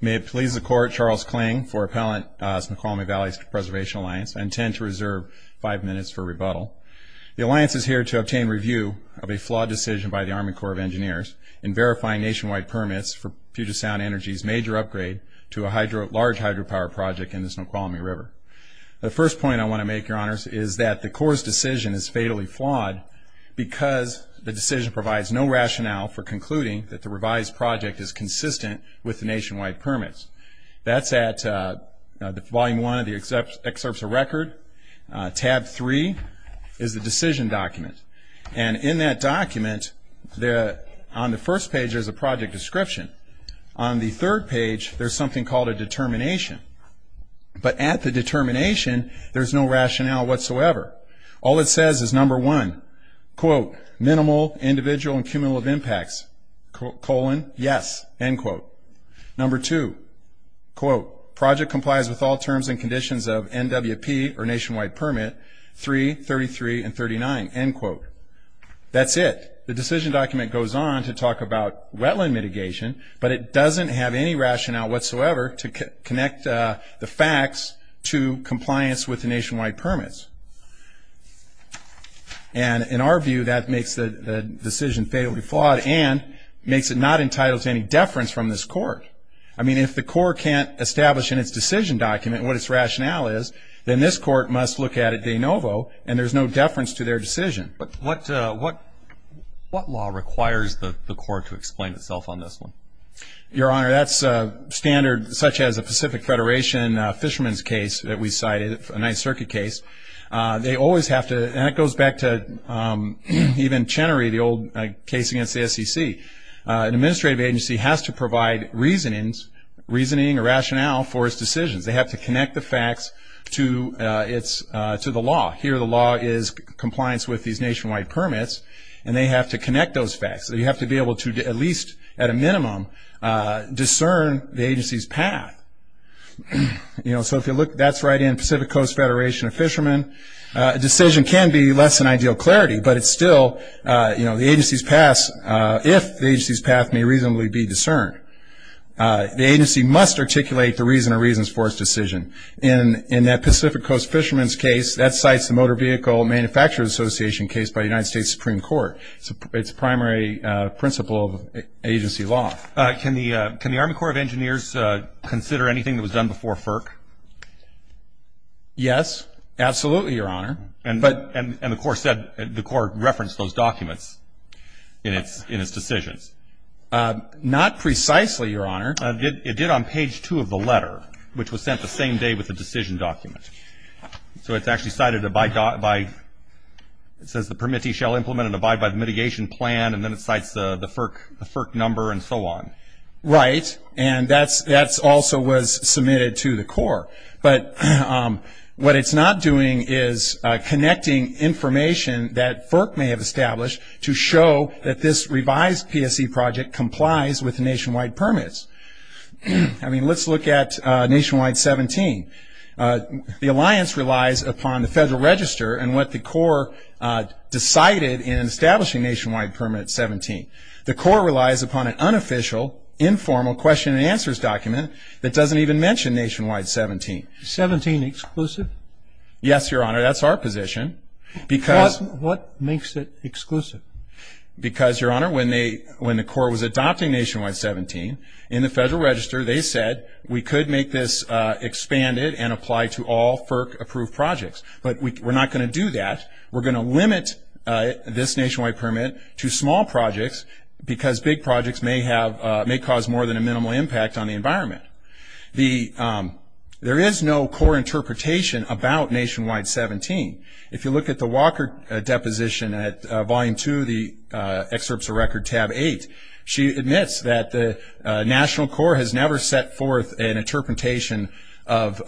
May it please the Court, Charles Kling for Appellant Snoqualmie Valley Preservation Alliance. I intend to reserve five minutes for rebuttal. The Alliance is here to obtain review of a flawed decision by the Army Corps of Engineers in verifying nationwide permits for Puget Sound Energy's major upgrade to a large hydropower project in the Snoqualmie River. The first point I want to make, Your Honors, is that the Corps' decision is fatally flawed because the decision provides no rationale for concluding that the revised project is consistent with the nationwide permits. That's at Volume 1 of the Excerpts of Record. Tab 3 is the decision document. And in that document, on the first page, there's a project description. On the third page, there's something called a determination. But at the determination, there's no rationale whatsoever. All it says is, number one, quote, Number two, quote, That's it. The decision document goes on to talk about wetland mitigation, but it doesn't have any rationale whatsoever to connect the facts to compliance with the nationwide permits. And in our view, that makes the decision fatally flawed and makes it not entitled to any deference from this Court. I mean, if the Corps can't establish in its decision document what its rationale is, then this Court must look at it de novo, and there's no deference to their decision. But what law requires the Corps to explain itself on this one? Your Honor, that's standard, such as a Pacific Federation fisherman's case that we cited, a Ninth Circuit case. And that goes back to even Chenery, the old case against the SEC. An administrative agency has to provide reasoning or rationale for its decisions. They have to connect the facts to the law. Here, the law is compliance with these nationwide permits, and they have to connect those facts. So you have to be able to, at least at a minimum, discern the agency's path. So if you look, that's right in Pacific Coast Federation of Fishermen. A decision can be less than ideal clarity, but it's still the agency's path, if the agency's path may reasonably be discerned. The agency must articulate the reason or reasons for its decision. In that Pacific Coast fisherman's case, that cites the Motor Vehicle Manufacturers Association case by the United States Supreme Court. It's a primary principle of agency law. Can the Army Corps of Engineers consider anything that was done before FERC? Yes, absolutely, Your Honor. And the Corps said the Corps referenced those documents in its decisions. Not precisely, Your Honor. It did on page two of the letter, which was sent the same day with the decision document. So it's actually cited by, it says, the permittee shall implement and abide by the mitigation plan, and then it cites the FERC number and so on. Right, and that also was submitted to the Corps. But what it's not doing is connecting information that FERC may have established to show that this revised PSE project complies with nationwide permits. I mean, let's look at Nationwide 17. The alliance relies upon the Federal Register and what the Corps decided in establishing Nationwide Permanent 17. The Corps relies upon an unofficial, informal question and answers document that doesn't even mention Nationwide 17. Is 17 exclusive? Yes, Your Honor, that's our position. What makes it exclusive? Because, Your Honor, when the Corps was adopting Nationwide 17, in the Federal Register they said we could make this expanded and apply to all FERC-approved projects. But we're not going to do that. We're going to limit this nationwide permit to small projects because big projects may cause more than a minimal impact on the environment. There is no core interpretation about Nationwide 17. If you look at the Walker deposition at Volume 2 of the Excerpts of Record, Tab 8, she admits that the National Corps has never set forth an interpretation of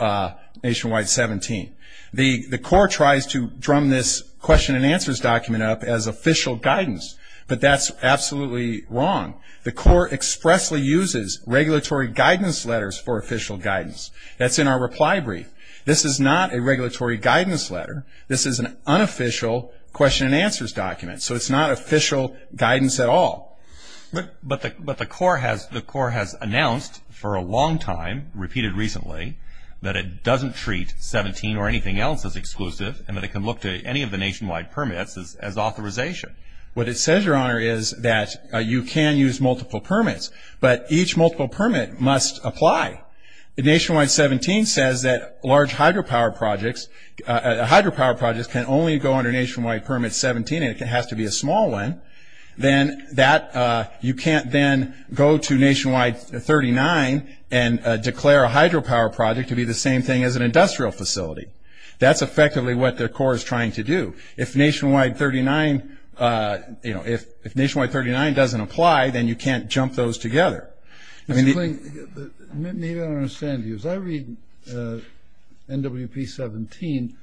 Nationwide 17. The Corps tries to drum this question and answers document up as official guidance, but that's absolutely wrong. The Corps expressly uses regulatory guidance letters for official guidance. That's in our reply brief. This is not a regulatory guidance letter. This is an unofficial question and answers document, so it's not official guidance at all. But the Corps has announced for a long time, repeated recently, that it doesn't treat 17 or anything else as exclusive and that it can look to any of the nationwide permits as authorization. What it says, Your Honor, is that you can use multiple permits, but each multiple permit must apply. Nationwide 17 says that large hydropower projects can only go under Nationwide Permit 17 and it has to be a small one. Then you can't then go to Nationwide 39 and declare a hydropower project to be the same thing as an industrial facility. That's effectively what the Corps is trying to do. If Nationwide 39 doesn't apply, then you can't jump those together. Maybe I don't understand you. As I read NWP 17,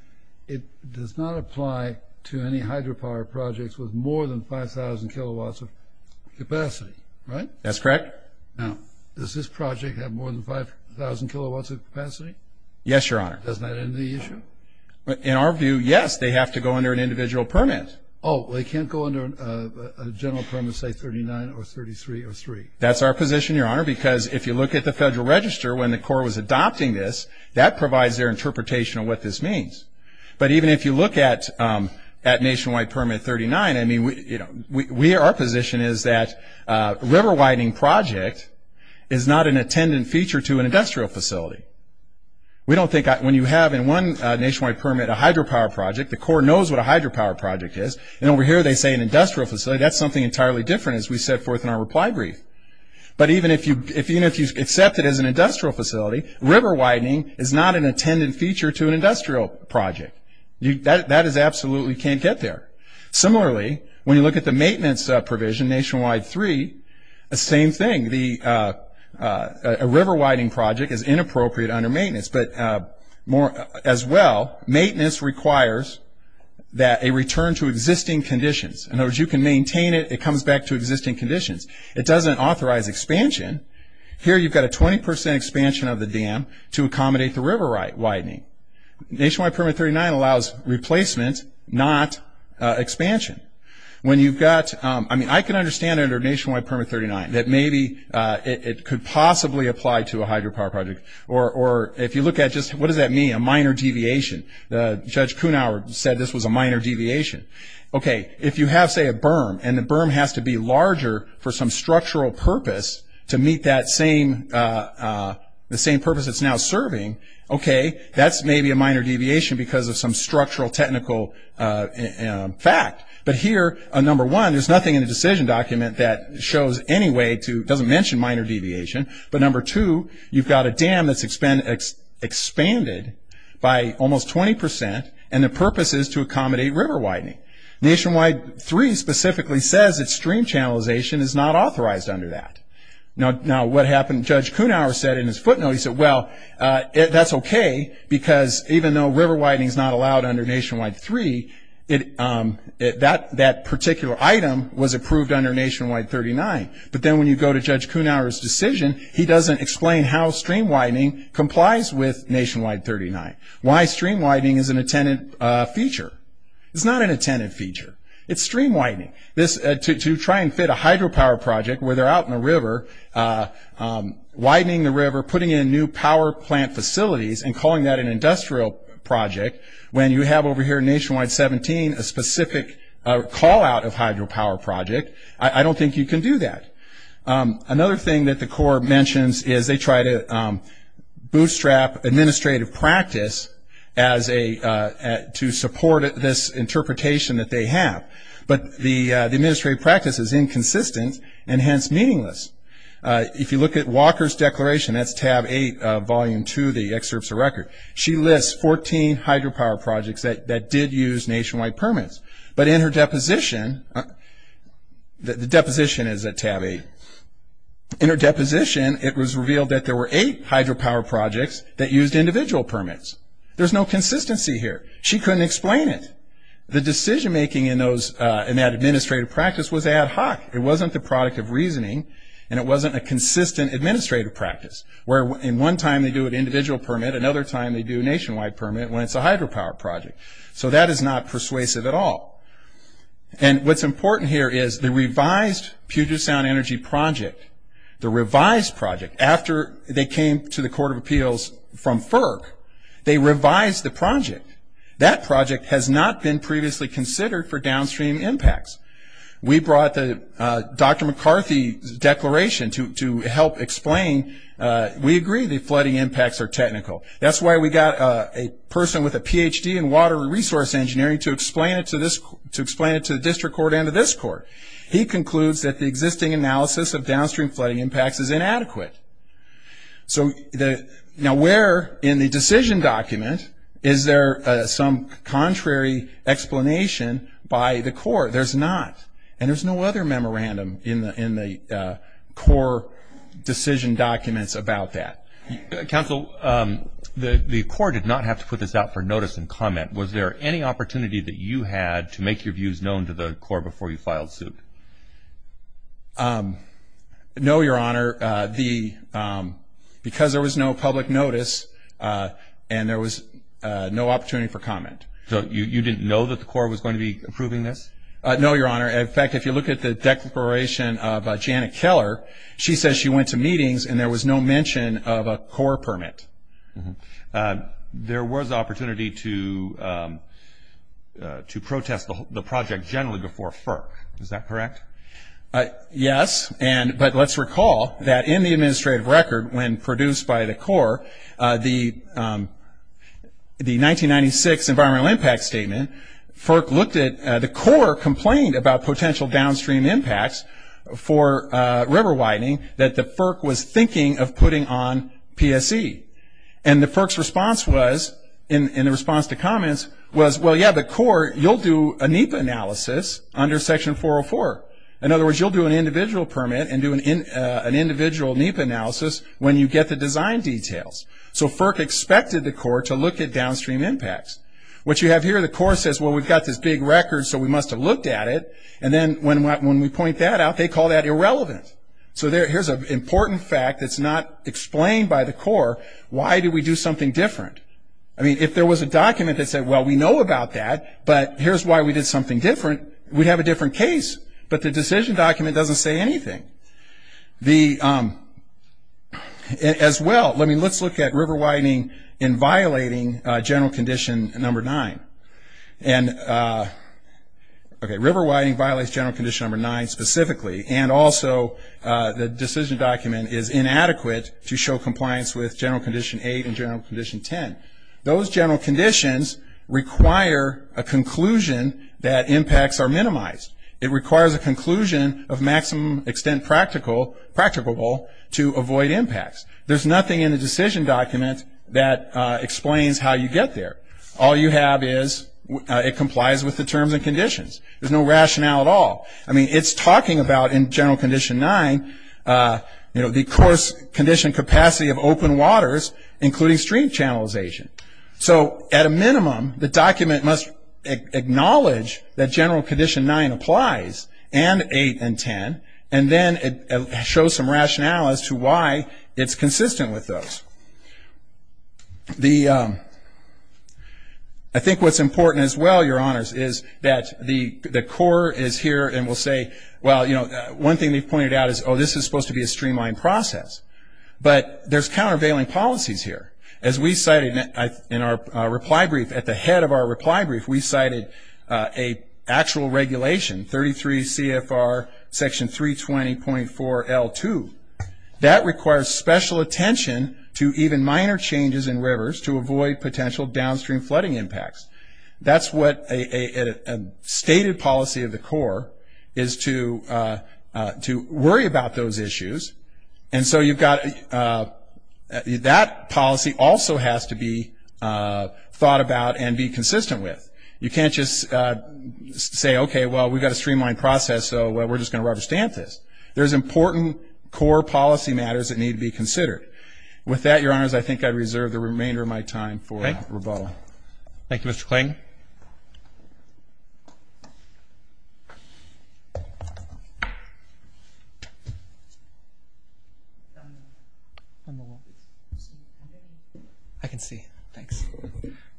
it does not apply to any hydropower projects with more than 5,000 kilowatts of capacity, right? That's correct. Now, does this project have more than 5,000 kilowatts of capacity? Yes, Your Honor. Doesn't that end the issue? In our view, yes. They have to go under an individual permit. Oh, they can't go under a general permit, say, 39 or 33 or 3? That's our position, Your Honor, because if you look at the Federal Register, when the Corps was adopting this, that provides their interpretation of what this means. But even if you look at Nationwide Permit 39, our position is that a river widening project is not an attendant feature to an industrial facility. When you have in one Nationwide Permit a hydropower project, the Corps knows what a hydropower project is, and over here they say an industrial facility. That's something entirely different, as we set forth in our reply brief. But even if you accept it as an industrial facility, river widening is not an attendant feature to an industrial project. That is absolutely can't get there. Similarly, when you look at the maintenance provision, Nationwide 3, the same thing. A river widening project is inappropriate under maintenance. But as well, maintenance requires a return to existing conditions. In other words, you can maintain it, it comes back to existing conditions. It doesn't authorize expansion. Here you've got a 20% expansion of the dam to accommodate the river widening. Nationwide Permit 39 allows replacement, not expansion. When you've got, I mean, I can understand under Nationwide Permit 39 that maybe it could possibly apply to a hydropower project. Or if you look at just, what does that mean, a minor deviation? Judge Kuhnhauer said this was a minor deviation. Okay, if you have, say, a berm, and the berm has to be larger for some structural purpose to meet that same purpose it's now serving, okay, that's maybe a minor deviation because of some structural technical fact. But here, number one, there's nothing in the decision document that shows any way to, doesn't mention minor deviation. But number two, you've got a dam that's expanded by almost 20%, and the purpose is to accommodate river widening. Nationwide 3 specifically says that stream channelization is not authorized under that. Now what happened, Judge Kuhnhauer said in his footnote, he said, well, that's okay because even though river widening is not allowed under Nationwide 3, that particular item was approved under Nationwide 39. But then when you go to Judge Kuhnhauer's decision, he doesn't explain how stream widening complies with Nationwide 39. Why stream widening is an attendant feature. It's not an attendant feature. It's stream widening. To try and fit a hydropower project where they're out in the river, widening the river, putting in new power plant facilities, and calling that an industrial project, when you have over here in Nationwide 17 a specific call-out of hydropower project, I don't think you can do that. Another thing that the Corps mentions is they try to bootstrap administrative practice to support this interpretation that they have. But the administrative practice is inconsistent and hence meaningless. If you look at Walker's declaration, that's tab 8, volume 2, the excerpts of record, she lists 14 hydropower projects that did use nationwide permits. But in her deposition, the deposition is at tab 8, in her deposition it was revealed that there were 8 hydropower projects that used individual permits. There's no consistency here. She couldn't explain it. The decision-making in that administrative practice was ad hoc. It wasn't the product of reasoning, and it wasn't a consistent administrative practice, where in one time they do an individual permit, another time they do a nationwide permit when it's a hydropower project. So that is not persuasive at all. And what's important here is the revised Puget Sound Energy project, the revised project, after they came to the Court of Appeals from FERC, they revised the project. That project has not been previously considered for downstream impacts. We brought Dr. McCarthy's declaration to help explain. We agree that flooding impacts are technical. That's why we got a person with a PhD in water resource engineering to explain it to the district court and to this court. He concludes that the existing analysis of downstream flooding impacts is inadequate. Now where in the decision document is there some contrary explanation by the court? There's not. And there's no other memorandum in the core decision documents about that. Counsel, the court did not have to put this out for notice and comment. Was there any opportunity that you had to make your views known to the court before you filed suit? No, Your Honor. Because there was no public notice and there was no opportunity for comment. So you didn't know that the court was going to be approving this? No, Your Honor. In fact, if you look at the declaration of Janet Keller, she says she went to meetings and there was no mention of a core permit. There was opportunity to protest the project generally before FERC. Is that correct? Yes. But let's recall that in the administrative record when produced by the core, the 1996 environmental impact statement, the core complained about potential downstream impacts for river widening that the FERC was thinking of putting on PSE. And the FERC's response was, in response to comments, was, well, yeah, the core, you'll do a NEPA analysis under Section 404. In other words, you'll do an individual permit and do an individual NEPA analysis when you get the design details. So FERC expected the court to look at downstream impacts. What you have here, the core says, well, we've got this big record, so we must have looked at it. And then when we point that out, they call that irrelevant. So here's an important fact that's not explained by the core. Why did we do something different? I mean, if there was a document that said, well, we know about that, but here's why we did something different, we'd have a different case. But the decision document doesn't say anything. As well, let's look at river widening in violating general condition number 9. River widening violates general condition number 9 specifically, and also the decision document is inadequate to show compliance with general condition 8 and general condition 10. Those general conditions require a conclusion that impacts are minimized. It requires a conclusion of maximum extent practicable to avoid impacts. There's nothing in the decision document that explains how you get there. All you have is it complies with the terms and conditions. There's no rationale at all. I mean, it's talking about, in general condition 9, the course condition capacity of open waters, including stream channelization. So, at a minimum, the document must acknowledge that general condition 9 applies, and 8 and 10, and then it shows some rationale as to why it's consistent with those. I think what's important as well, Your Honors, is that the core is here and will say, well, you know, one thing they've pointed out is, oh, this is supposed to be a streamlined process. But there's countervailing policies here. As we cited in our reply brief, at the head of our reply brief, we cited an actual regulation, 33 CFR section 320.4L2. That requires special attention to even minor changes in rivers to avoid potential downstream flooding impacts. That's what a stated policy of the core is to worry about those issues. And so you've got that policy also has to be thought about and be consistent with. You can't just say, okay, well, we've got a streamlined process, so we're just going to rubber stamp this. There's important core policy matters that need to be considered. With that, Your Honors, I think I reserve the remainder of my time for rebuttal. Thank you, Mr. Kling. I can see. Thanks.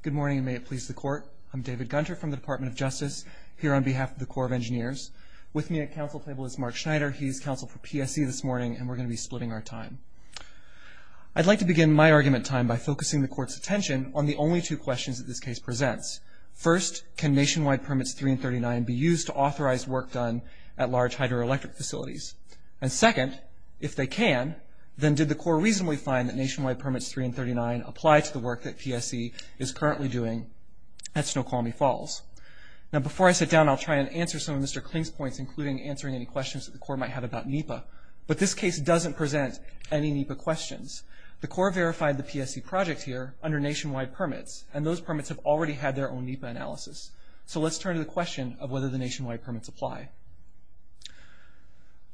Good morning, and may it please the Court. I'm David Gunter from the Department of Justice here on behalf of the Corps of Engineers. With me at council table is Mark Schneider. He's counsel for PSE this morning, and we're going to be splitting our time. I'd like to begin my argument time by focusing the Court's attention on the only two questions that this case presents. First, can Nationwide Permits 3 and 39 be used to authorize work done at large hydroelectric facilities? And second, if they can, then did the Corps reasonably find that Nationwide Permits 3 and 39 apply to the work that PSE is currently doing at Snoqualmie Falls? Now, before I sit down, I'll try and answer some of Mr. Kling's points, including answering any questions that the Corps might have about NEPA. But this case doesn't present any NEPA questions. The Corps verified the PSE project here under Nationwide Permits, and those permits have already had their own NEPA analysis. So let's turn to the question of whether the Nationwide Permits apply.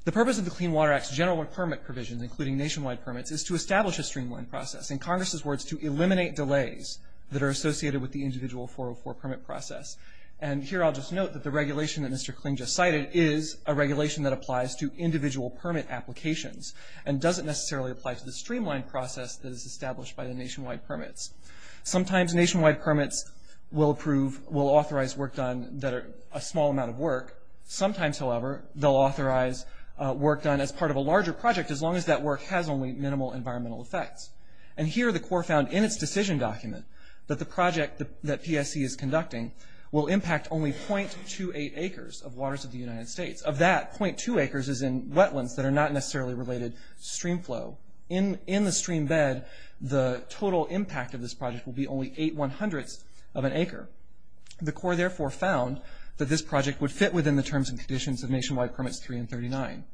The purpose of the Clean Water Act's general permit provision, including Nationwide Permits, is to establish a streamlined process, in Congress's words, to eliminate delays that are associated with the individual 404 permit process. And here I'll just note that the regulation that Mr. Kling just cited is a regulation that applies to individual permit applications, and doesn't necessarily apply to the streamlined process that is established by the Nationwide Permits. Sometimes Nationwide Permits will approve, will authorize work done that are a small amount of work. Sometimes, however, they'll authorize work done as part of a larger project, as long as that work has only minimal environmental effects. And here the Corps found in its decision document that the project that PSE is conducting will impact only .28 acres of waters of the United States. Of that, .2 acres is in wetlands that are not necessarily related to stream flow. In the stream bed, the total impact of this project will be only .8 of an acre. The Corps therefore found that this project would fit within the terms and conditions of Nationwide Permits 3 and 39.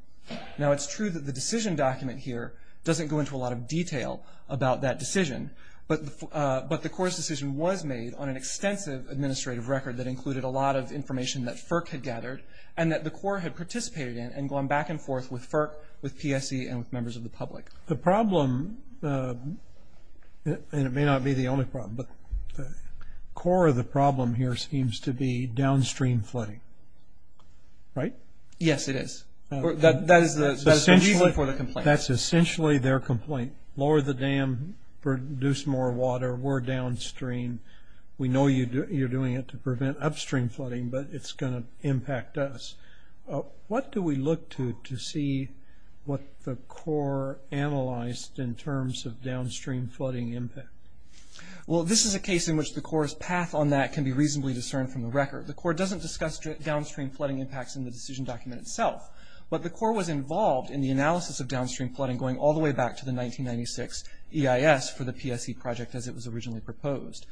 Now it's true that the decision document here doesn't go into a lot of detail about that decision, but the Corps' decision was made on an extensive administrative record that included a lot of information that FERC had gathered, and that the Corps had participated in and gone back and forth with FERC, with PSE, and with members of the public. The problem, and it may not be the only problem, but the core of the problem here seems to be downstream flooding, right? Yes, it is. That is the reason for the complaint. That's essentially their complaint. Lower the dam, produce more water, we're downstream. We know you're doing it to prevent upstream flooding, but it's going to impact us. What do we look to to see what the Corps analyzed in terms of downstream flooding impact? Well, this is a case in which the Corps' path on that can be reasonably discerned from the record. The Corps doesn't discuss downstream flooding impacts in the decision document itself, but the Corps was involved in the analysis of downstream flooding and going all the way back to the 1996 EIS for the PSE project as it was originally proposed.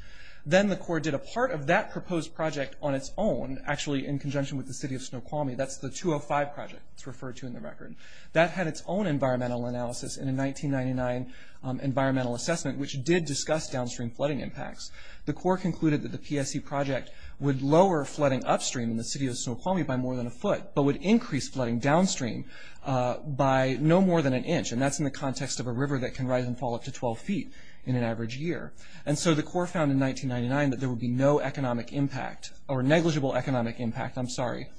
Then the Corps did a part of that proposed project on its own, actually in conjunction with the city of Snoqualmie. That's the 205 project that's referred to in the record. That had its own environmental analysis in a 1999 environmental assessment, which did discuss downstream flooding impacts. The Corps concluded that the PSE project would lower flooding upstream in the city of Snoqualmie by more than a foot, but would increase flooding downstream by no more than an inch. And that's in the context of a river that can rise and fall up to 12 feet in an average year. And so the Corps found in 1999 that there would be no economic impact, or negligible economic impact, I'm sorry,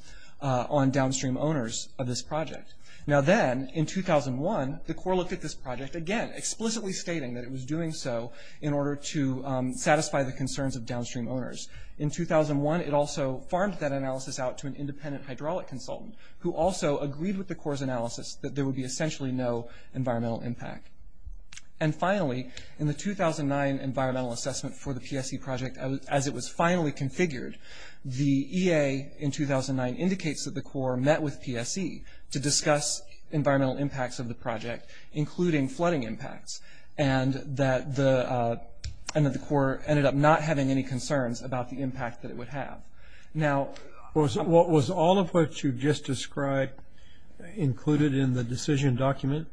on downstream owners of this project. Now then, in 2001, the Corps looked at this project again, explicitly stating that it was doing so in order to satisfy the concerns of downstream owners. In 2001, it also farmed that analysis out to an independent hydraulic consultant who also agreed with the Corps' analysis that there would be essentially no environmental impact. And finally, in the 2009 environmental assessment for the PSE project, as it was finally configured, the EA in 2009 indicates that the Corps met with PSE to discuss environmental impacts of the project, including flooding impacts, and that the Corps ended up not having any concerns about the impact that it would have. Was all of what you just described included in the decision document?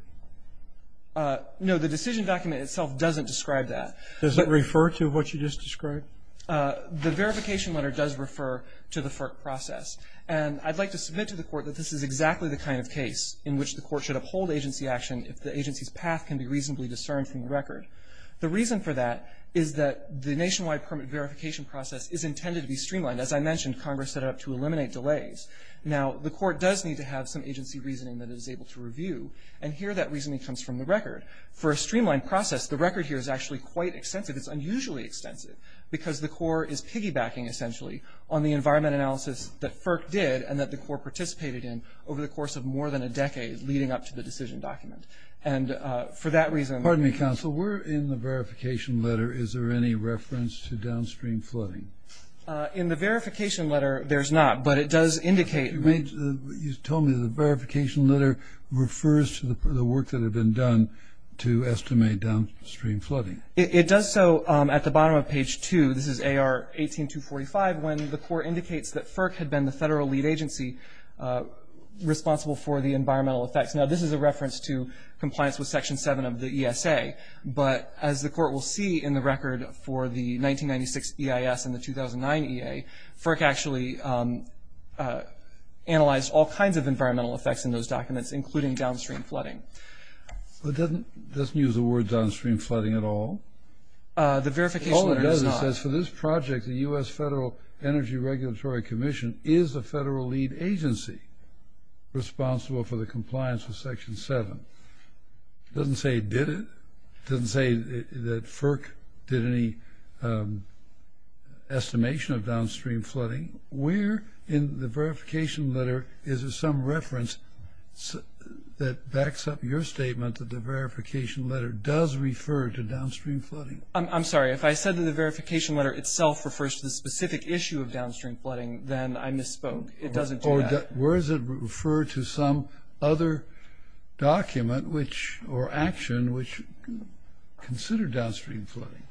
No, the decision document itself doesn't describe that. Does it refer to what you just described? The verification letter does refer to the FERC process. And I'd like to submit to the Court that this is exactly the kind of case in which the Court should uphold agency action if the agency's path can be reasonably discerned from the record. The reason for that is that the nationwide permit verification process is intended to be streamlined. As I mentioned, Congress set it up to eliminate delays. Now, the Court does need to have some agency reasoning that it is able to review, and here that reasoning comes from the record. For a streamlined process, the record here is actually quite extensive. It's unusually extensive because the Corps is piggybacking, essentially, on the environment analysis that FERC did and that the Corps participated in over the course of more than a decade leading up to the decision document. And for that reason— Sir, in the verification letter, is there any reference to downstream flooding? In the verification letter, there's not, but it does indicate— You told me the verification letter refers to the work that had been done to estimate downstream flooding. It does so at the bottom of page 2. This is AR 18245 when the Court indicates that FERC had been the federal lead agency responsible for the environmental effects. Now, this is a reference to compliance with Section 7 of the ESA, but as the Court will see in the record for the 1996 EIS and the 2009 EA, FERC actually analyzed all kinds of environmental effects in those documents, including downstream flooding. It doesn't use the word downstream flooding at all. The verification letter does not. All it does is says, for this project, the U.S. Federal Energy Regulatory Commission is a federal lead agency responsible for the compliance with Section 7. It doesn't say it did it. It doesn't say that FERC did any estimation of downstream flooding. Where in the verification letter is there some reference that backs up your statement that the verification letter does refer to downstream flooding? I'm sorry. If I said that the verification letter itself refers to the specific issue of downstream flooding, then I misspoke. It doesn't do that. Where does it refer to some other document or action which considered downstream flooding?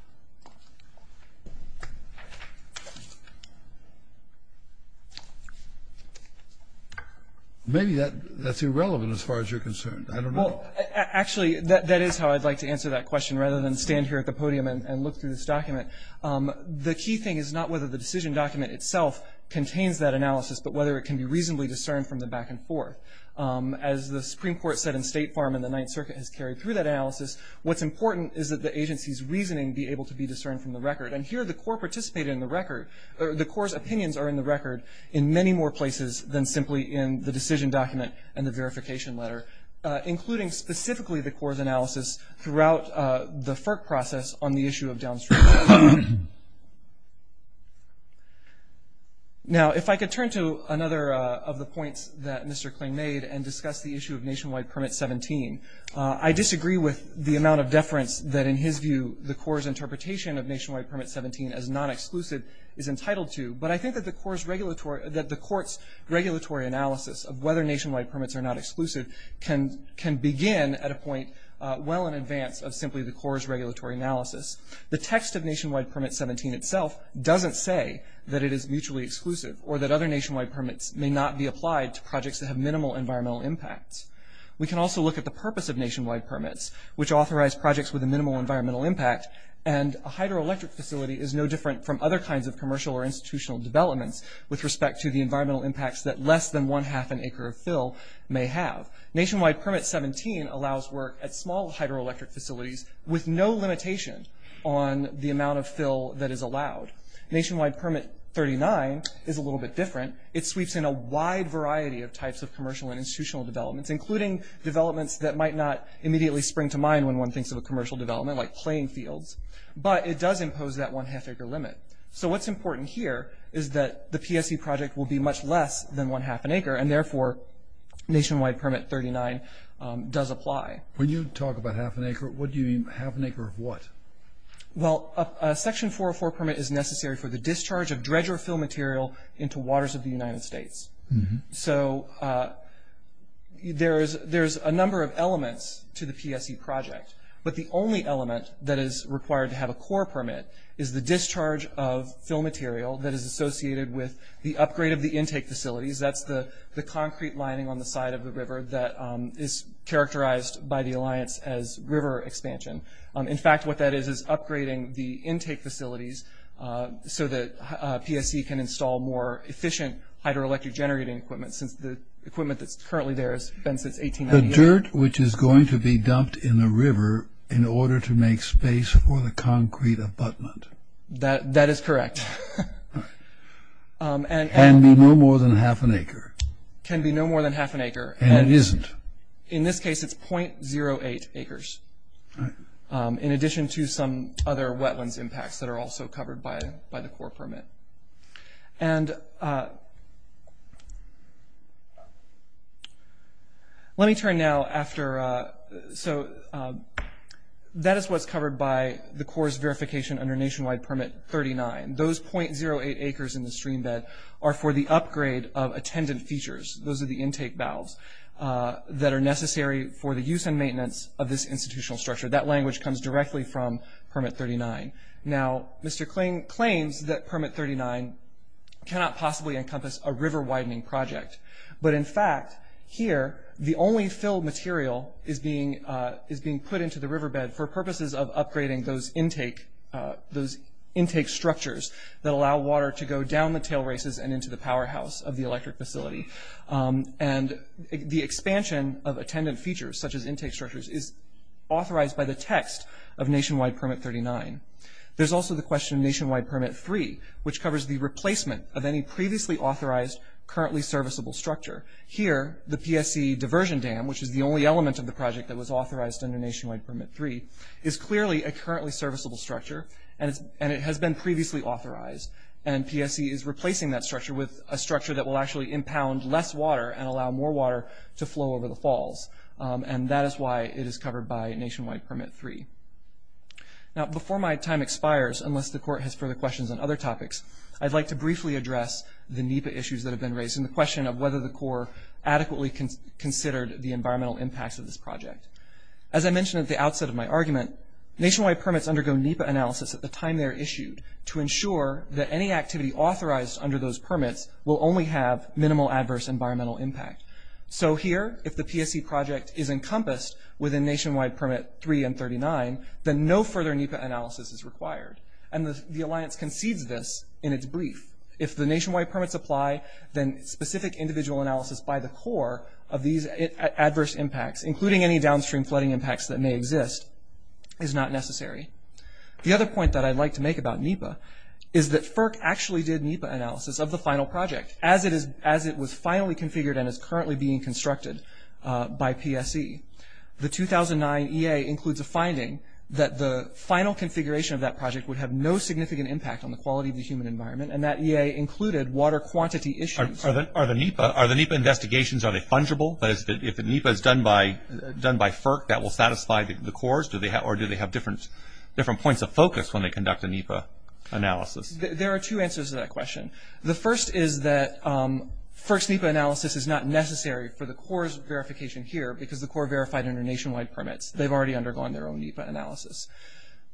Maybe that's irrelevant as far as you're concerned. I don't know. Actually, that is how I'd like to answer that question rather than stand here at the podium and look through this document. The key thing is not whether the decision document itself contains that analysis, but whether it can be reasonably discerned from the back and forth. As the Supreme Court said in State Farm and the Ninth Circuit has carried through that analysis, what's important is that the agency's reasoning be able to be discerned from the record. And here the Corps participated in the record. The Corps' opinions are in the record in many more places than simply in the decision document and the verification letter, including specifically the Corps' analysis throughout the FERC process on the issue of downstream flooding. Now, if I could turn to another of the points that Mr. Kling made and discuss the issue of Nationwide Permit 17. I disagree with the amount of deference that, in his view, the Corps' interpretation of Nationwide Permit 17 as non-exclusive is entitled to. But I think that the Corps' regulatory analysis of whether Nationwide Permits are not exclusive can begin at a point well in advance of simply the Corps' regulatory analysis. The text of Nationwide Permit 17 itself doesn't say that it is mutually exclusive or that other Nationwide Permits may not be applied to projects that have minimal environmental impact. We can also look at the purpose of Nationwide Permits, which authorize projects with a minimal environmental impact, and a hydroelectric facility is no different from other kinds of commercial or institutional developments with respect to the environmental impacts that less than one-half an acre of fill may have. Nationwide Permit 17 allows work at small hydroelectric facilities with no limitation on the amount of fill that is allowed. Nationwide Permit 39 is a little bit different. It sweeps in a wide variety of types of commercial and institutional developments, including developments that might not immediately spring to mind when one thinks of a commercial development like playing fields, but it does impose that one-half acre limit. So what's important here is that the PSE project will be much less than one-half an acre, and therefore Nationwide Permit 39 does apply. When you talk about half an acre, what do you mean half an acre of what? Well, a Section 404 permit is necessary for the discharge of dredger fill material into waters of the United States. So there's a number of elements to the PSE project, but the only element that is required to have a core permit is the discharge of fill material that is associated with the upgrade of the intake facilities. That's the concrete lining on the side of the river that is characterized by the alliance as river expansion. In fact, what that is is upgrading the intake facilities so that PSE can install more efficient hydroelectric generating equipment since the equipment that's currently there has been since 1898. The dirt which is going to be dumped in the river in order to make space for the concrete abutment. That is correct. Can be no more than half an acre. Can be no more than half an acre. And it isn't. In this case, it's .08 acres in addition to some other wetlands impacts that are also covered by the core permit. And let me turn now after... So that is what's covered by the core's verification under Nationwide Permit 39. Those .08 acres in the stream bed are for the upgrade of attendant features. Those are the intake valves that are necessary for the use and maintenance of this institutional structure. That language comes directly from Permit 39. Now, Mr. Cling claims that Permit 39 cannot possibly encompass a river widening project. But in fact, here, the only fill material is being put into the riverbed for purposes of upgrading those intake structures that allow water to go down the tail races and into the powerhouse of the electric facility. And the expansion of attendant features, such as intake structures, is authorized by the text of Nationwide Permit 39. There's also the question of Nationwide Permit 3, which covers the replacement of any previously authorized, currently serviceable structure. Here, the PSC diversion dam, which is the only element of the project that was authorized under Nationwide Permit 3, is clearly a currently serviceable structure, and it has been previously authorized. And PSC is replacing that structure with a structure that will actually impound less water and allow more water to flow over the falls. And that is why it is covered by Nationwide Permit 3. Now, before my time expires, unless the Court has further questions on other topics, I'd like to briefly address the NEPA issues that have been raised in the question of whether the Corps adequately considered the environmental impacts of this project. As I mentioned at the outset of my argument, Nationwide Permits undergo NEPA analysis at the time they're issued to ensure that any activity authorized under those permits will only have minimal adverse environmental impact. So here, if the PSC project is encompassed within Nationwide Permit 3 and 39, then no further NEPA analysis is required. And the Alliance concedes this in its brief. If the Nationwide Permits apply, then specific individual analysis by the Corps of these adverse impacts, including any downstream flooding impacts that may exist, is not necessary. The other point that I'd like to make about NEPA is that FERC actually did NEPA analysis of the final project as it was finally configured and is currently being constructed by PSC. The 2009 EA includes a finding that the final configuration of that project would have no significant impact on the quality of the human environment, and that EA included water quantity issues. Are the NEPA investigations, are they fungible? If the NEPA is done by FERC, that will satisfy the Corps? Or do they have different points of focus when they conduct a NEPA analysis? There are two answers to that question. The first is that FERC's NEPA analysis is not necessary for the Corps' verification here because the Corps verified under Nationwide Permits. They've already undergone their own NEPA analysis.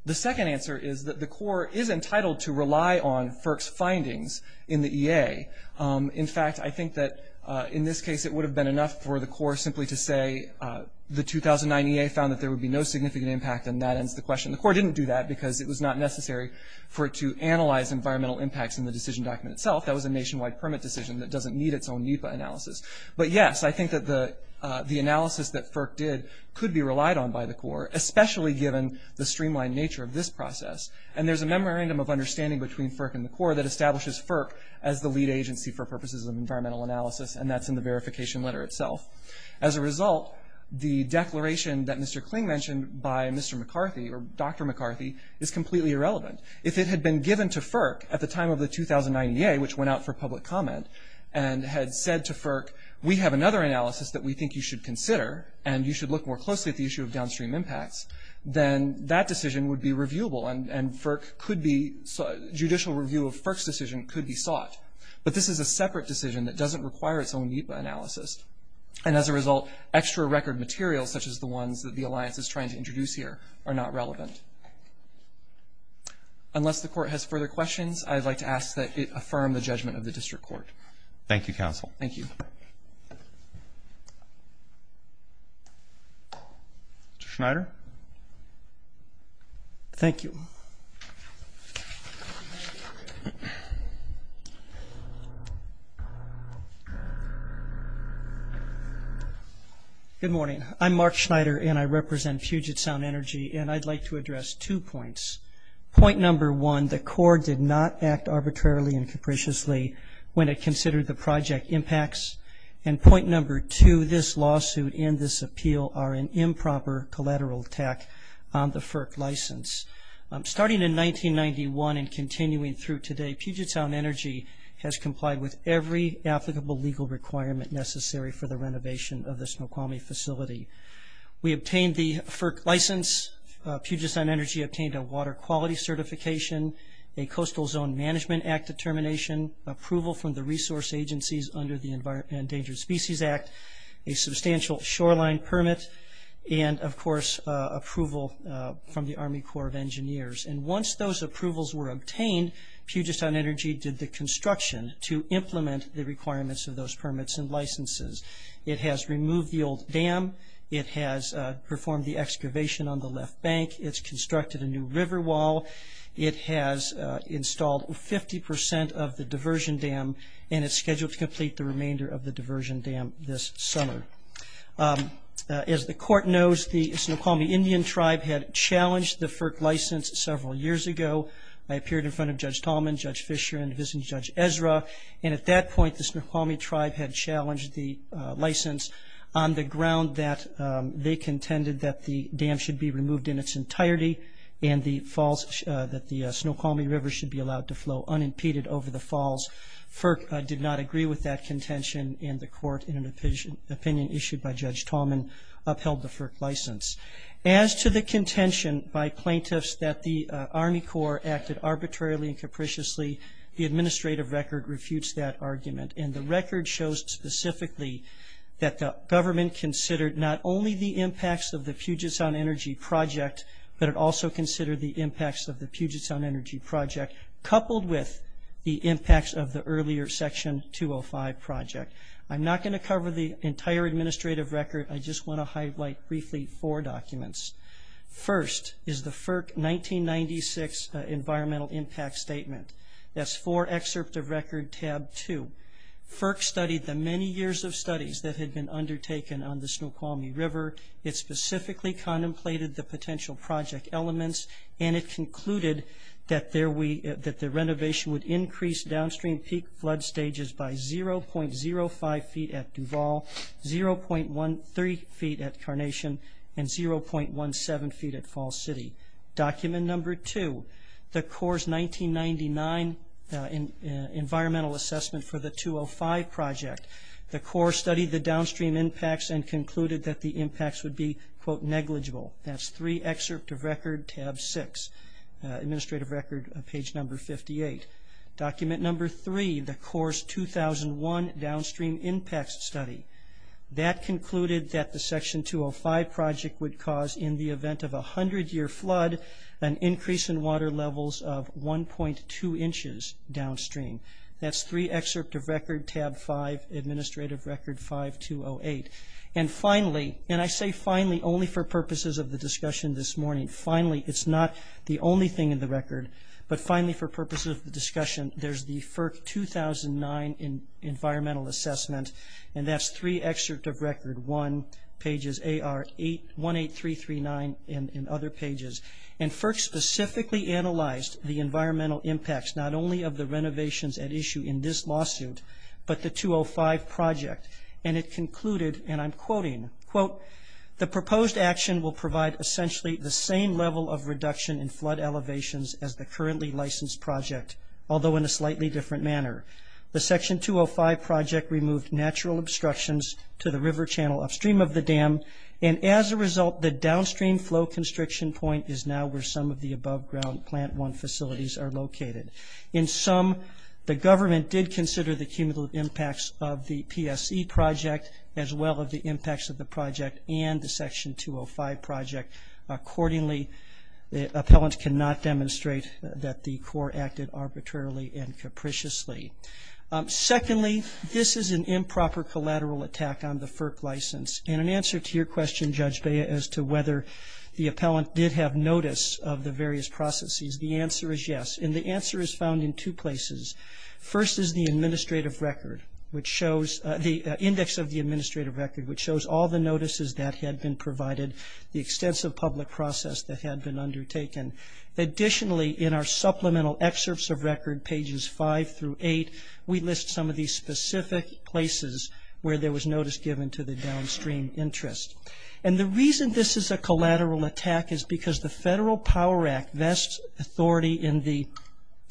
The second answer is that the Corps is entitled to rely on FERC's findings in the EA. In fact, I think that in this case it would have been enough for the Corps simply to say the 2009 EA found that there would be no significant impact, and that ends the question. The Corps didn't do that because it was not necessary for it to analyze environmental impacts in the decision document itself. That was a Nationwide Permit decision that doesn't need its own NEPA analysis. But yes, I think that the analysis that FERC did could be relied on by the Corps, especially given the streamlined nature of this process. And there's a memorandum of understanding between FERC and the Corps that establishes FERC as the lead agency for purposes of environmental analysis, and that's in the verification letter itself. As a result, the declaration that Mr. Kling mentioned by Mr. McCarthy, or Dr. McCarthy, is completely irrelevant. If it had been given to FERC at the time of the 2009 EA, which went out for public comment, and had said to FERC, we have another analysis that we think you should consider, and you should look more closely at the issue of downstream impacts, then that decision would be reviewable, and FERC could be – judicial review of FERC's decision could be sought. But this is a separate decision that doesn't require its own NEPA analysis. And as a result, extra record materials, such as the ones that the Alliance is trying to introduce here, are not relevant. Unless the Court has further questions, I'd like to ask that it affirm the judgment of the District Court. Thank you, Counsel. Thank you. Mr. Schneider. Thank you. Good morning. I'm Mark Schneider, and I represent Puget Sound Energy, and I'd like to address two points. Point number one, the Court did not act arbitrarily and capriciously when it considered the project impacts. And point number two, this lawsuit and this appeal are an improper collateral attack on the FERC license. Starting in 1991 and continuing through today, Puget Sound Energy has complied with every applicable legal requirement necessary for the renovation of the Snoqualmie facility. We obtained the FERC license. Puget Sound Energy obtained a water quality certification, a Coastal Zone Management Act determination, approval from the resource agencies under the Endangered Species Act, a substantial shoreline permit, and, of course, approval from the Army Corps of Engineers. And once those approvals were obtained, Puget Sound Energy did the construction to implement the requirements of those permits and licenses. It has removed the old dam. It has performed the excavation on the left bank. It's constructed a new river wall. It has installed 50% of the diversion dam, and it's scheduled to complete the remainder of the diversion dam this summer. As the Court knows, the Snoqualmie Indian tribe had challenged the FERC license several years ago. They appeared in front of Judge Tallman, Judge Fisher, and visiting Judge Ezra, and at that point the Snoqualmie tribe had challenged the license on the ground that they contended that the dam should be removed in its entirety and that the Snoqualmie River should be allowed to flow unimpeded over the falls. FERC did not agree with that contention, and the Court, in an opinion issued by Judge Tallman, upheld the FERC license. As to the contention by plaintiffs that the Army Corps acted arbitrarily and capriciously, the administrative record refutes that argument, and the record shows specifically that the government considered not only the impacts of the Puget Sound Energy project, but it also considered the impacts of the Puget Sound Energy project, coupled with the impacts of the earlier Section 205 project. I'm not going to cover the entire administrative record. I just want to highlight briefly four documents. First is the FERC 1996 Environmental Impact Statement. That's four excerpts of record tab two. FERC studied the many years of studies that had been undertaken on the Snoqualmie River. It specifically contemplated the potential project elements, and it concluded that the renovation would increase downstream peak flood stages by 0.05 feet at Duval, 0.13 feet at Carnation, and 0.17 feet at Fall City. Document number two, the Corps' 1999 Environmental Assessment for the 205 project. The Corps studied the downstream impacts and concluded that the impacts would be, quote, negligible. That's three excerpts of record tab six, administrative record page number 58. Document number three, the Corps' 2001 Downstream Impacts Study. That concluded that the Section 205 project would cause, in the event of a 100-year flood, an increase in water levels of 1.2 inches downstream. That's three excerpts of record tab five, administrative record 5208. And finally, and I say finally only for purposes of the discussion this morning, finally, it's not the only thing in the record, but finally for purposes of the discussion, there's the FERC 2009 Environmental Assessment, and that's three excerpts of record one, pages 18339 and other pages. FERC specifically analyzed the environmental impacts not only of the renovations at issue in this lawsuit, but the 205 project, and it concluded, and I'm quoting, quote, the proposed action will provide essentially the same level of reduction in flood elevations as the currently licensed project, although in a slightly different manner. The Section 205 project removed natural obstructions to the river channel upstream of the dam, and as a result the downstream flow constriction point is now where some of the above ground plant one facilities are located. In sum, the government did consider the cumulative impacts of the PSE project as well as the impacts of the project and the Section 205 project. Accordingly, the appellant cannot demonstrate that the Corps acted arbitrarily and capriciously. Secondly, this is an improper collateral attack on the FERC license, and in answer to your question, Judge Bea, as to whether the appellant did have notice of the various processes, the answer is yes, and the answer is found in two places. First is the administrative record, the index of the administrative record, which shows all the notices that had been provided, the extensive public process that had been undertaken. Additionally, in our supplemental excerpts of record, pages 5 through 8, we list some of these specific places where there was notice given to the downstream interest. And the reason this is a collateral attack is because the Federal Power Act vests authority in the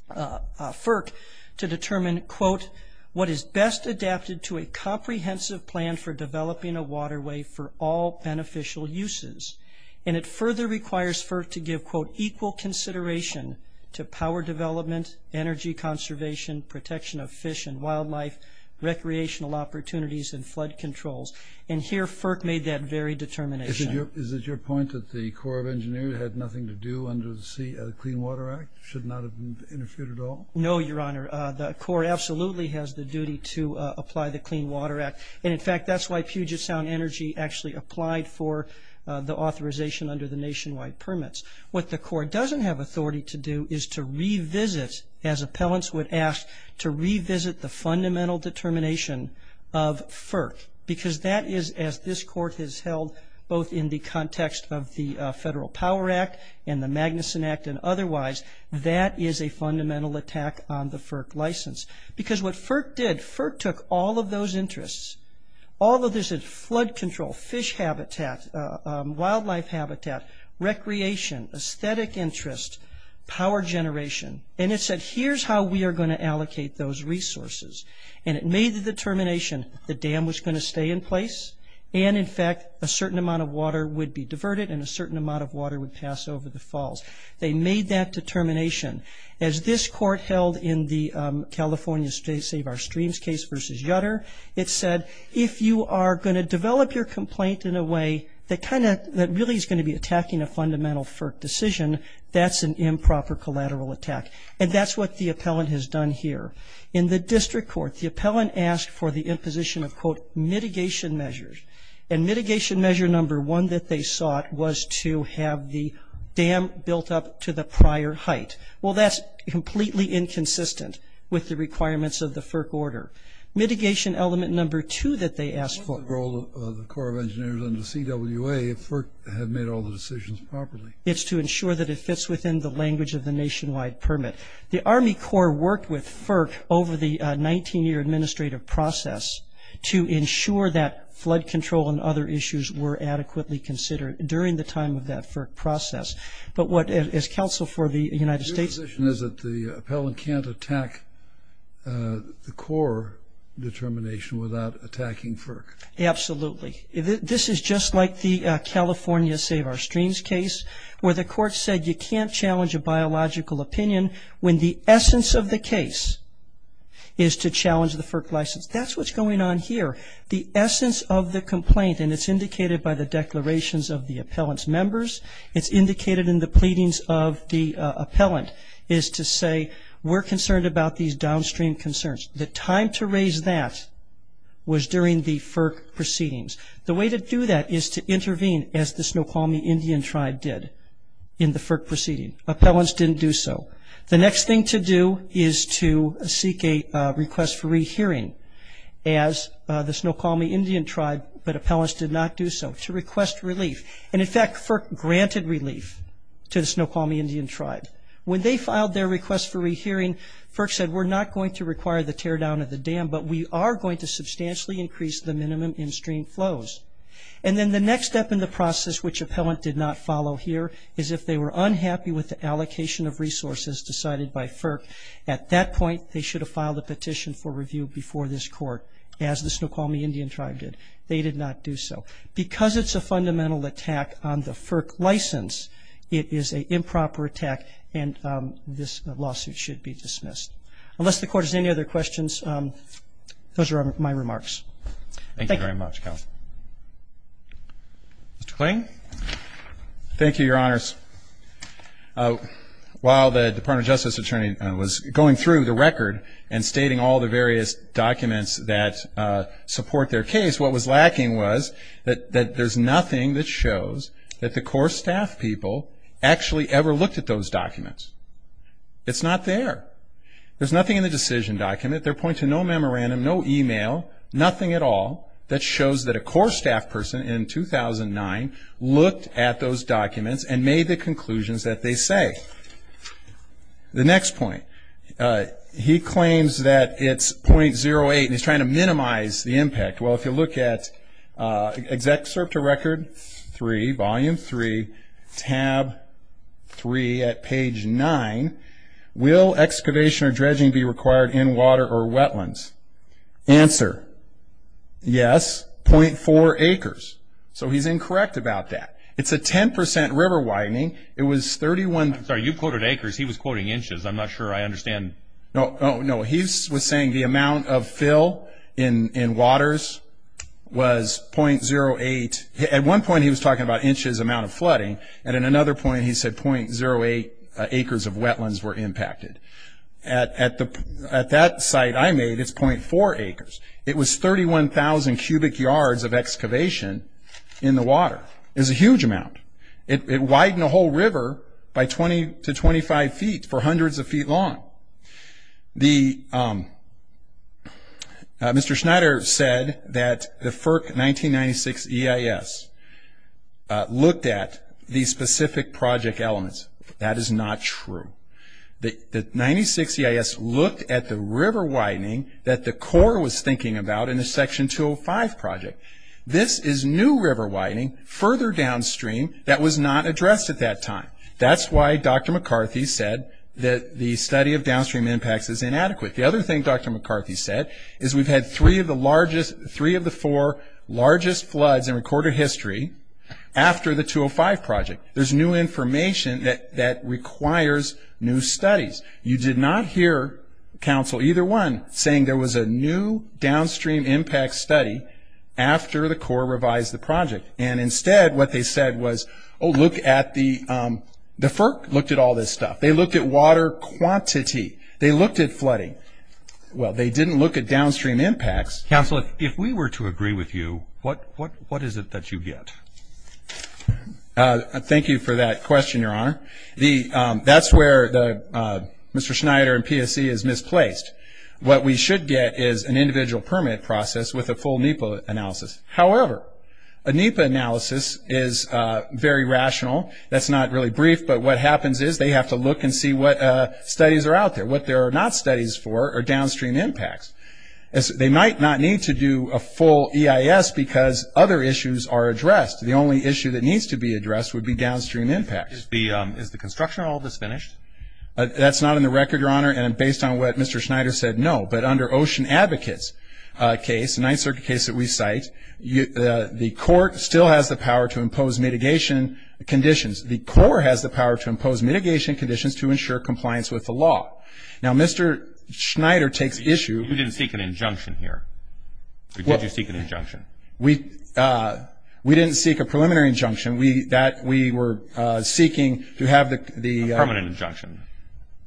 FERC to determine, quote, what is best adapted to a comprehensive plan for developing a waterway for all beneficial uses. And it further requires FERC to give, quote, equal consideration to power development, energy conservation, protection of fish and wildlife, recreational opportunities, and flood controls. And here FERC made that very determination. Is it your point that the Corps of Engineers had nothing to do under the Clean Water Act, should not have been interfered at all? No, Your Honor. The Corps absolutely has the duty to apply the Clean Water Act, and in fact that's why Puget Sound Energy actually applied for the authorization under the nationwide permits. What the Corps doesn't have authority to do is to revisit, as appellants would ask, to revisit the fundamental determination of FERC because that is, as this Court has held both in the context of the Federal Power Act and the Magnuson Act and otherwise, that is a fundamental attack on the FERC license. Because what FERC did, FERC took all of those interests, all of this flood control, fish habitat, wildlife habitat, recreation, aesthetic interest, power generation, and it said here's how we are going to allocate those resources. And it made the determination the dam was going to stay in place, and in fact a certain amount of water would be diverted and a certain amount of water would pass over the falls. They made that determination. As this Court held in the California Save Our Streams case versus Yutter, it said if you are going to develop your complaint in a way that kind of, that really is going to be attacking a fundamental FERC decision, that's an improper collateral attack. And that's what the appellant has done here. In the district court, the appellant asked for the imposition of, quote, mitigation measures. And mitigation measure number one that they sought was to have the dam built up to the prior height. Well, that's completely inconsistent with the requirements of the FERC order. Mitigation element number two that they asked for. What's the role of the Corps of Engineers and the CWA if FERC had made all the decisions properly? It's to ensure that it fits within the language of the nationwide permit. The Army Corps worked with FERC over the 19-year administrative process to ensure that flood control and other issues were adequately considered during the time of that FERC process. But what, as counsel for the United States. Your position is that the appellant can't attack the Corps determination without attacking FERC. Absolutely. This is just like the California Save Our Streams case where the court said you can't challenge a biological opinion when the essence of the case is to challenge the FERC license. That's what's going on here. The essence of the complaint, and it's indicated by the declarations of the appellant's members, it's indicated in the pleadings of the appellant, is to say we're concerned about these downstream concerns. The time to raise that was during the FERC proceedings. The way to do that is to intervene as the Snoqualmie Indian tribe did in the FERC proceeding. Appellants didn't do so. The next thing to do is to seek a request for rehearing as the Snoqualmie Indian tribe, but appellants did not do so, to request relief. And, in fact, FERC granted relief to the Snoqualmie Indian tribe. When they filed their request for rehearing, FERC said we're not going to require the tear down of the dam, but we are going to substantially increase the minimum in stream flows. And then the next step in the process, which appellant did not follow here, is if they were unhappy with the allocation of resources decided by FERC, at that point they should have filed a petition for review before this court, as the Snoqualmie Indian tribe did. They did not do so. Because it's a fundamental attack on the FERC license, it is an improper attack, and this lawsuit should be dismissed. Unless the Court has any other questions, those are my remarks. Thank you. Thank you very much, Counsel. Mr. Kling? Thank you, Your Honors. While the Department of Justice attorney was going through the record and stating all the various documents that support their case, what was lacking was that there's nothing that shows that the core staff people actually ever looked at those documents. It's not there. There's nothing in the decision document. There points to no memorandum, no email, nothing at all, that shows that a core staff person in 2009 looked at those documents and made the conclusions that they say. The next point. He claims that it's .08, and he's trying to minimize the impact. Well, if you look at Excerpt to Record 3, Volume 3, Tab 3 at page 9, will excavation or dredging be required in water or wetlands? Answer, yes, .4 acres. So he's incorrect about that. It's a 10% river widening. It was 31. I'm sorry, you quoted acres. He was quoting inches. I'm not sure I understand. No, he was saying the amount of fill in waters was .08. At one point he was talking about inches amount of flooding, and at another point he said .08 acres of wetlands were impacted. At that site I made, it's .4 acres. It was 31,000 cubic yards of excavation in the water. It's a huge amount. It widened the whole river by 20 to 25 feet for hundreds of feet long. Mr. Schneider said that the FERC 1996 EIS looked at the specific project elements. That is not true. The 1996 EIS looked at the river widening that the Corps was thinking about in the Section 205 project. This is new river widening further downstream that was not addressed at that time. That's why Dr. McCarthy said that the study of downstream impacts is inadequate. The other thing Dr. McCarthy said is we've had three of the four largest floods in recorded history after the 205 project. There's new information that requires new studies. You did not hear, counsel, either one saying there was a new downstream impact study after the Corps revised the project, and instead what they said was, oh, look at the, the FERC looked at all this stuff. They looked at water quantity. They looked at flooding. Well, they didn't look at downstream impacts. Counsel, if we were to agree with you, what is it that you get? Thank you for that question, Your Honor. That's where Mr. Schneider and PSC is misplaced. What we should get is an individual permit process with a full NEPA analysis. However, a NEPA analysis is very rational. That's not really brief, but what happens is they have to look and see what studies are out there, what there are not studies for or downstream impacts. They might not need to do a full EIS because other issues are addressed. The only issue that needs to be addressed would be downstream impacts. Is the construction of all this finished? That's not in the record, Your Honor, and based on what Mr. Schneider said, no. But under Ocean Advocates' case, the Ninth Circuit case that we cite, the court still has the power to impose mitigation conditions. The Corps has the power to impose mitigation conditions to ensure compliance with the law. Now, Mr. Schneider takes issue. You didn't seek an injunction here, or did you seek an injunction? We didn't seek a preliminary injunction. We were seeking to have the – A permanent injunction.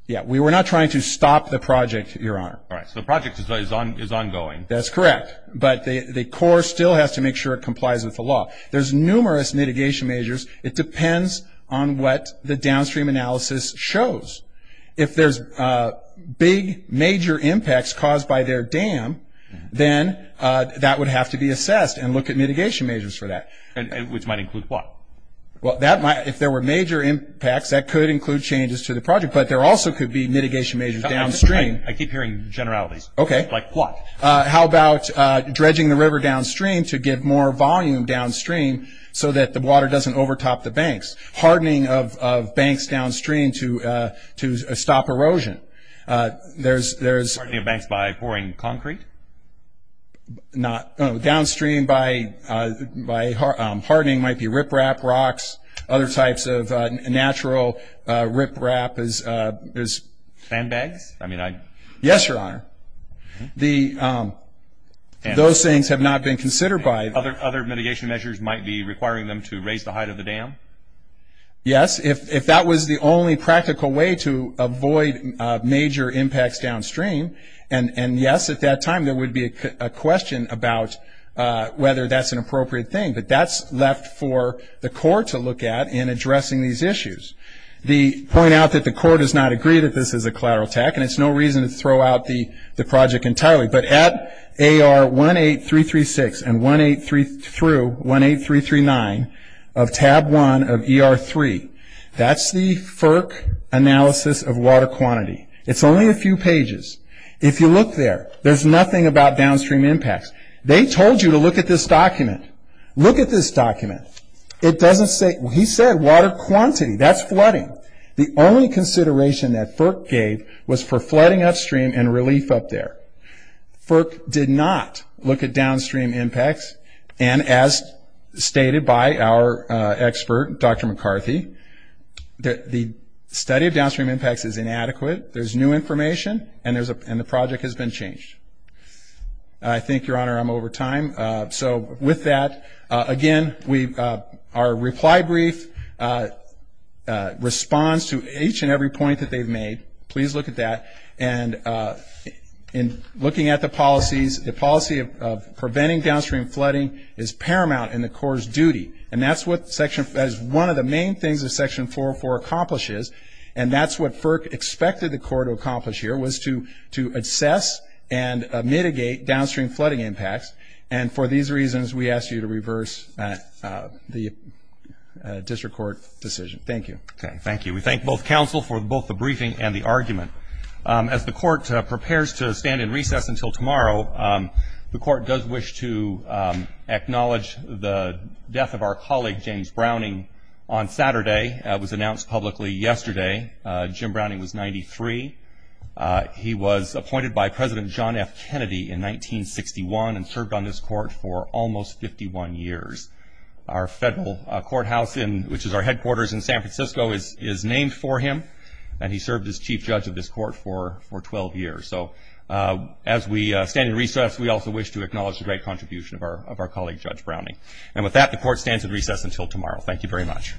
Yeah, we were not trying to stop the project, Your Honor. All right, so the project is ongoing. That's correct, but the Corps still has to make sure it complies with the law. There's numerous mitigation measures. It depends on what the downstream analysis shows. If there's big, major impacts caused by their dam, then that would have to be assessed and look at mitigation measures for that. Which might include what? Well, if there were major impacts, that could include changes to the project, but there also could be mitigation measures downstream. I keep hearing generalities. Okay. Like what? How about dredging the river downstream to get more volume downstream so that the water doesn't overtop the banks? Hardening of banks downstream to stop erosion. There's – Hardening of banks by pouring concrete? Not – Downstream by hardening might be riprap, rocks, other types of natural riprap. Sandbags? Yes, Your Honor. Those things have not been considered by – Other mitigation measures might be requiring them to raise the height of the dam? Yes. If that was the only practical way to avoid major impacts downstream, and yes, at that time there would be a question about whether that's an appropriate thing, but that's left for the Corps to look at in addressing these issues. The point out that the Corps does not agree that this is a collateral attack, and it's no reason to throw out the project entirely, but at AR 18336 through 18339 of tab 1 of ER3, that's the FERC analysis of water quantity. It's only a few pages. If you look there, there's nothing about downstream impacts. They told you to look at this document. Look at this document. It doesn't say – He said water quantity. That's flooding. The only consideration that FERC gave was for flooding upstream and relief up there. FERC did not look at downstream impacts, and as stated by our expert, Dr. McCarthy, the study of downstream impacts is inadequate. There's new information, and the project has been changed. I think, Your Honor, I'm over time. With that, again, our reply brief responds to each and every point that they've made. Please look at that. Looking at the policies, the policy of preventing downstream flooding is paramount in the Corps' duty, and that is one of the main things that Section 404 accomplishes, and that's what FERC expected the Corps to accomplish here, was to assess and mitigate downstream flooding impacts, and for these reasons we ask you to reverse the district court decision. Thank you. Okay, thank you. We thank both counsel for both the briefing and the argument. As the Court prepares to stand in recess until tomorrow, the Court does wish to acknowledge the death of our colleague, James Browning, on Saturday. It was announced publicly yesterday. Jim Browning was 93. He was appointed by President John F. Kennedy in 1961 and served on this Court for almost 51 years. Our federal courthouse, which is our headquarters in San Francisco, is named for him, and he served as chief judge of this Court for 12 years. So as we stand in recess, we also wish to acknowledge the great contribution of our colleague, Judge Browning. And with that, the Court stands in recess until tomorrow. Thank you very much.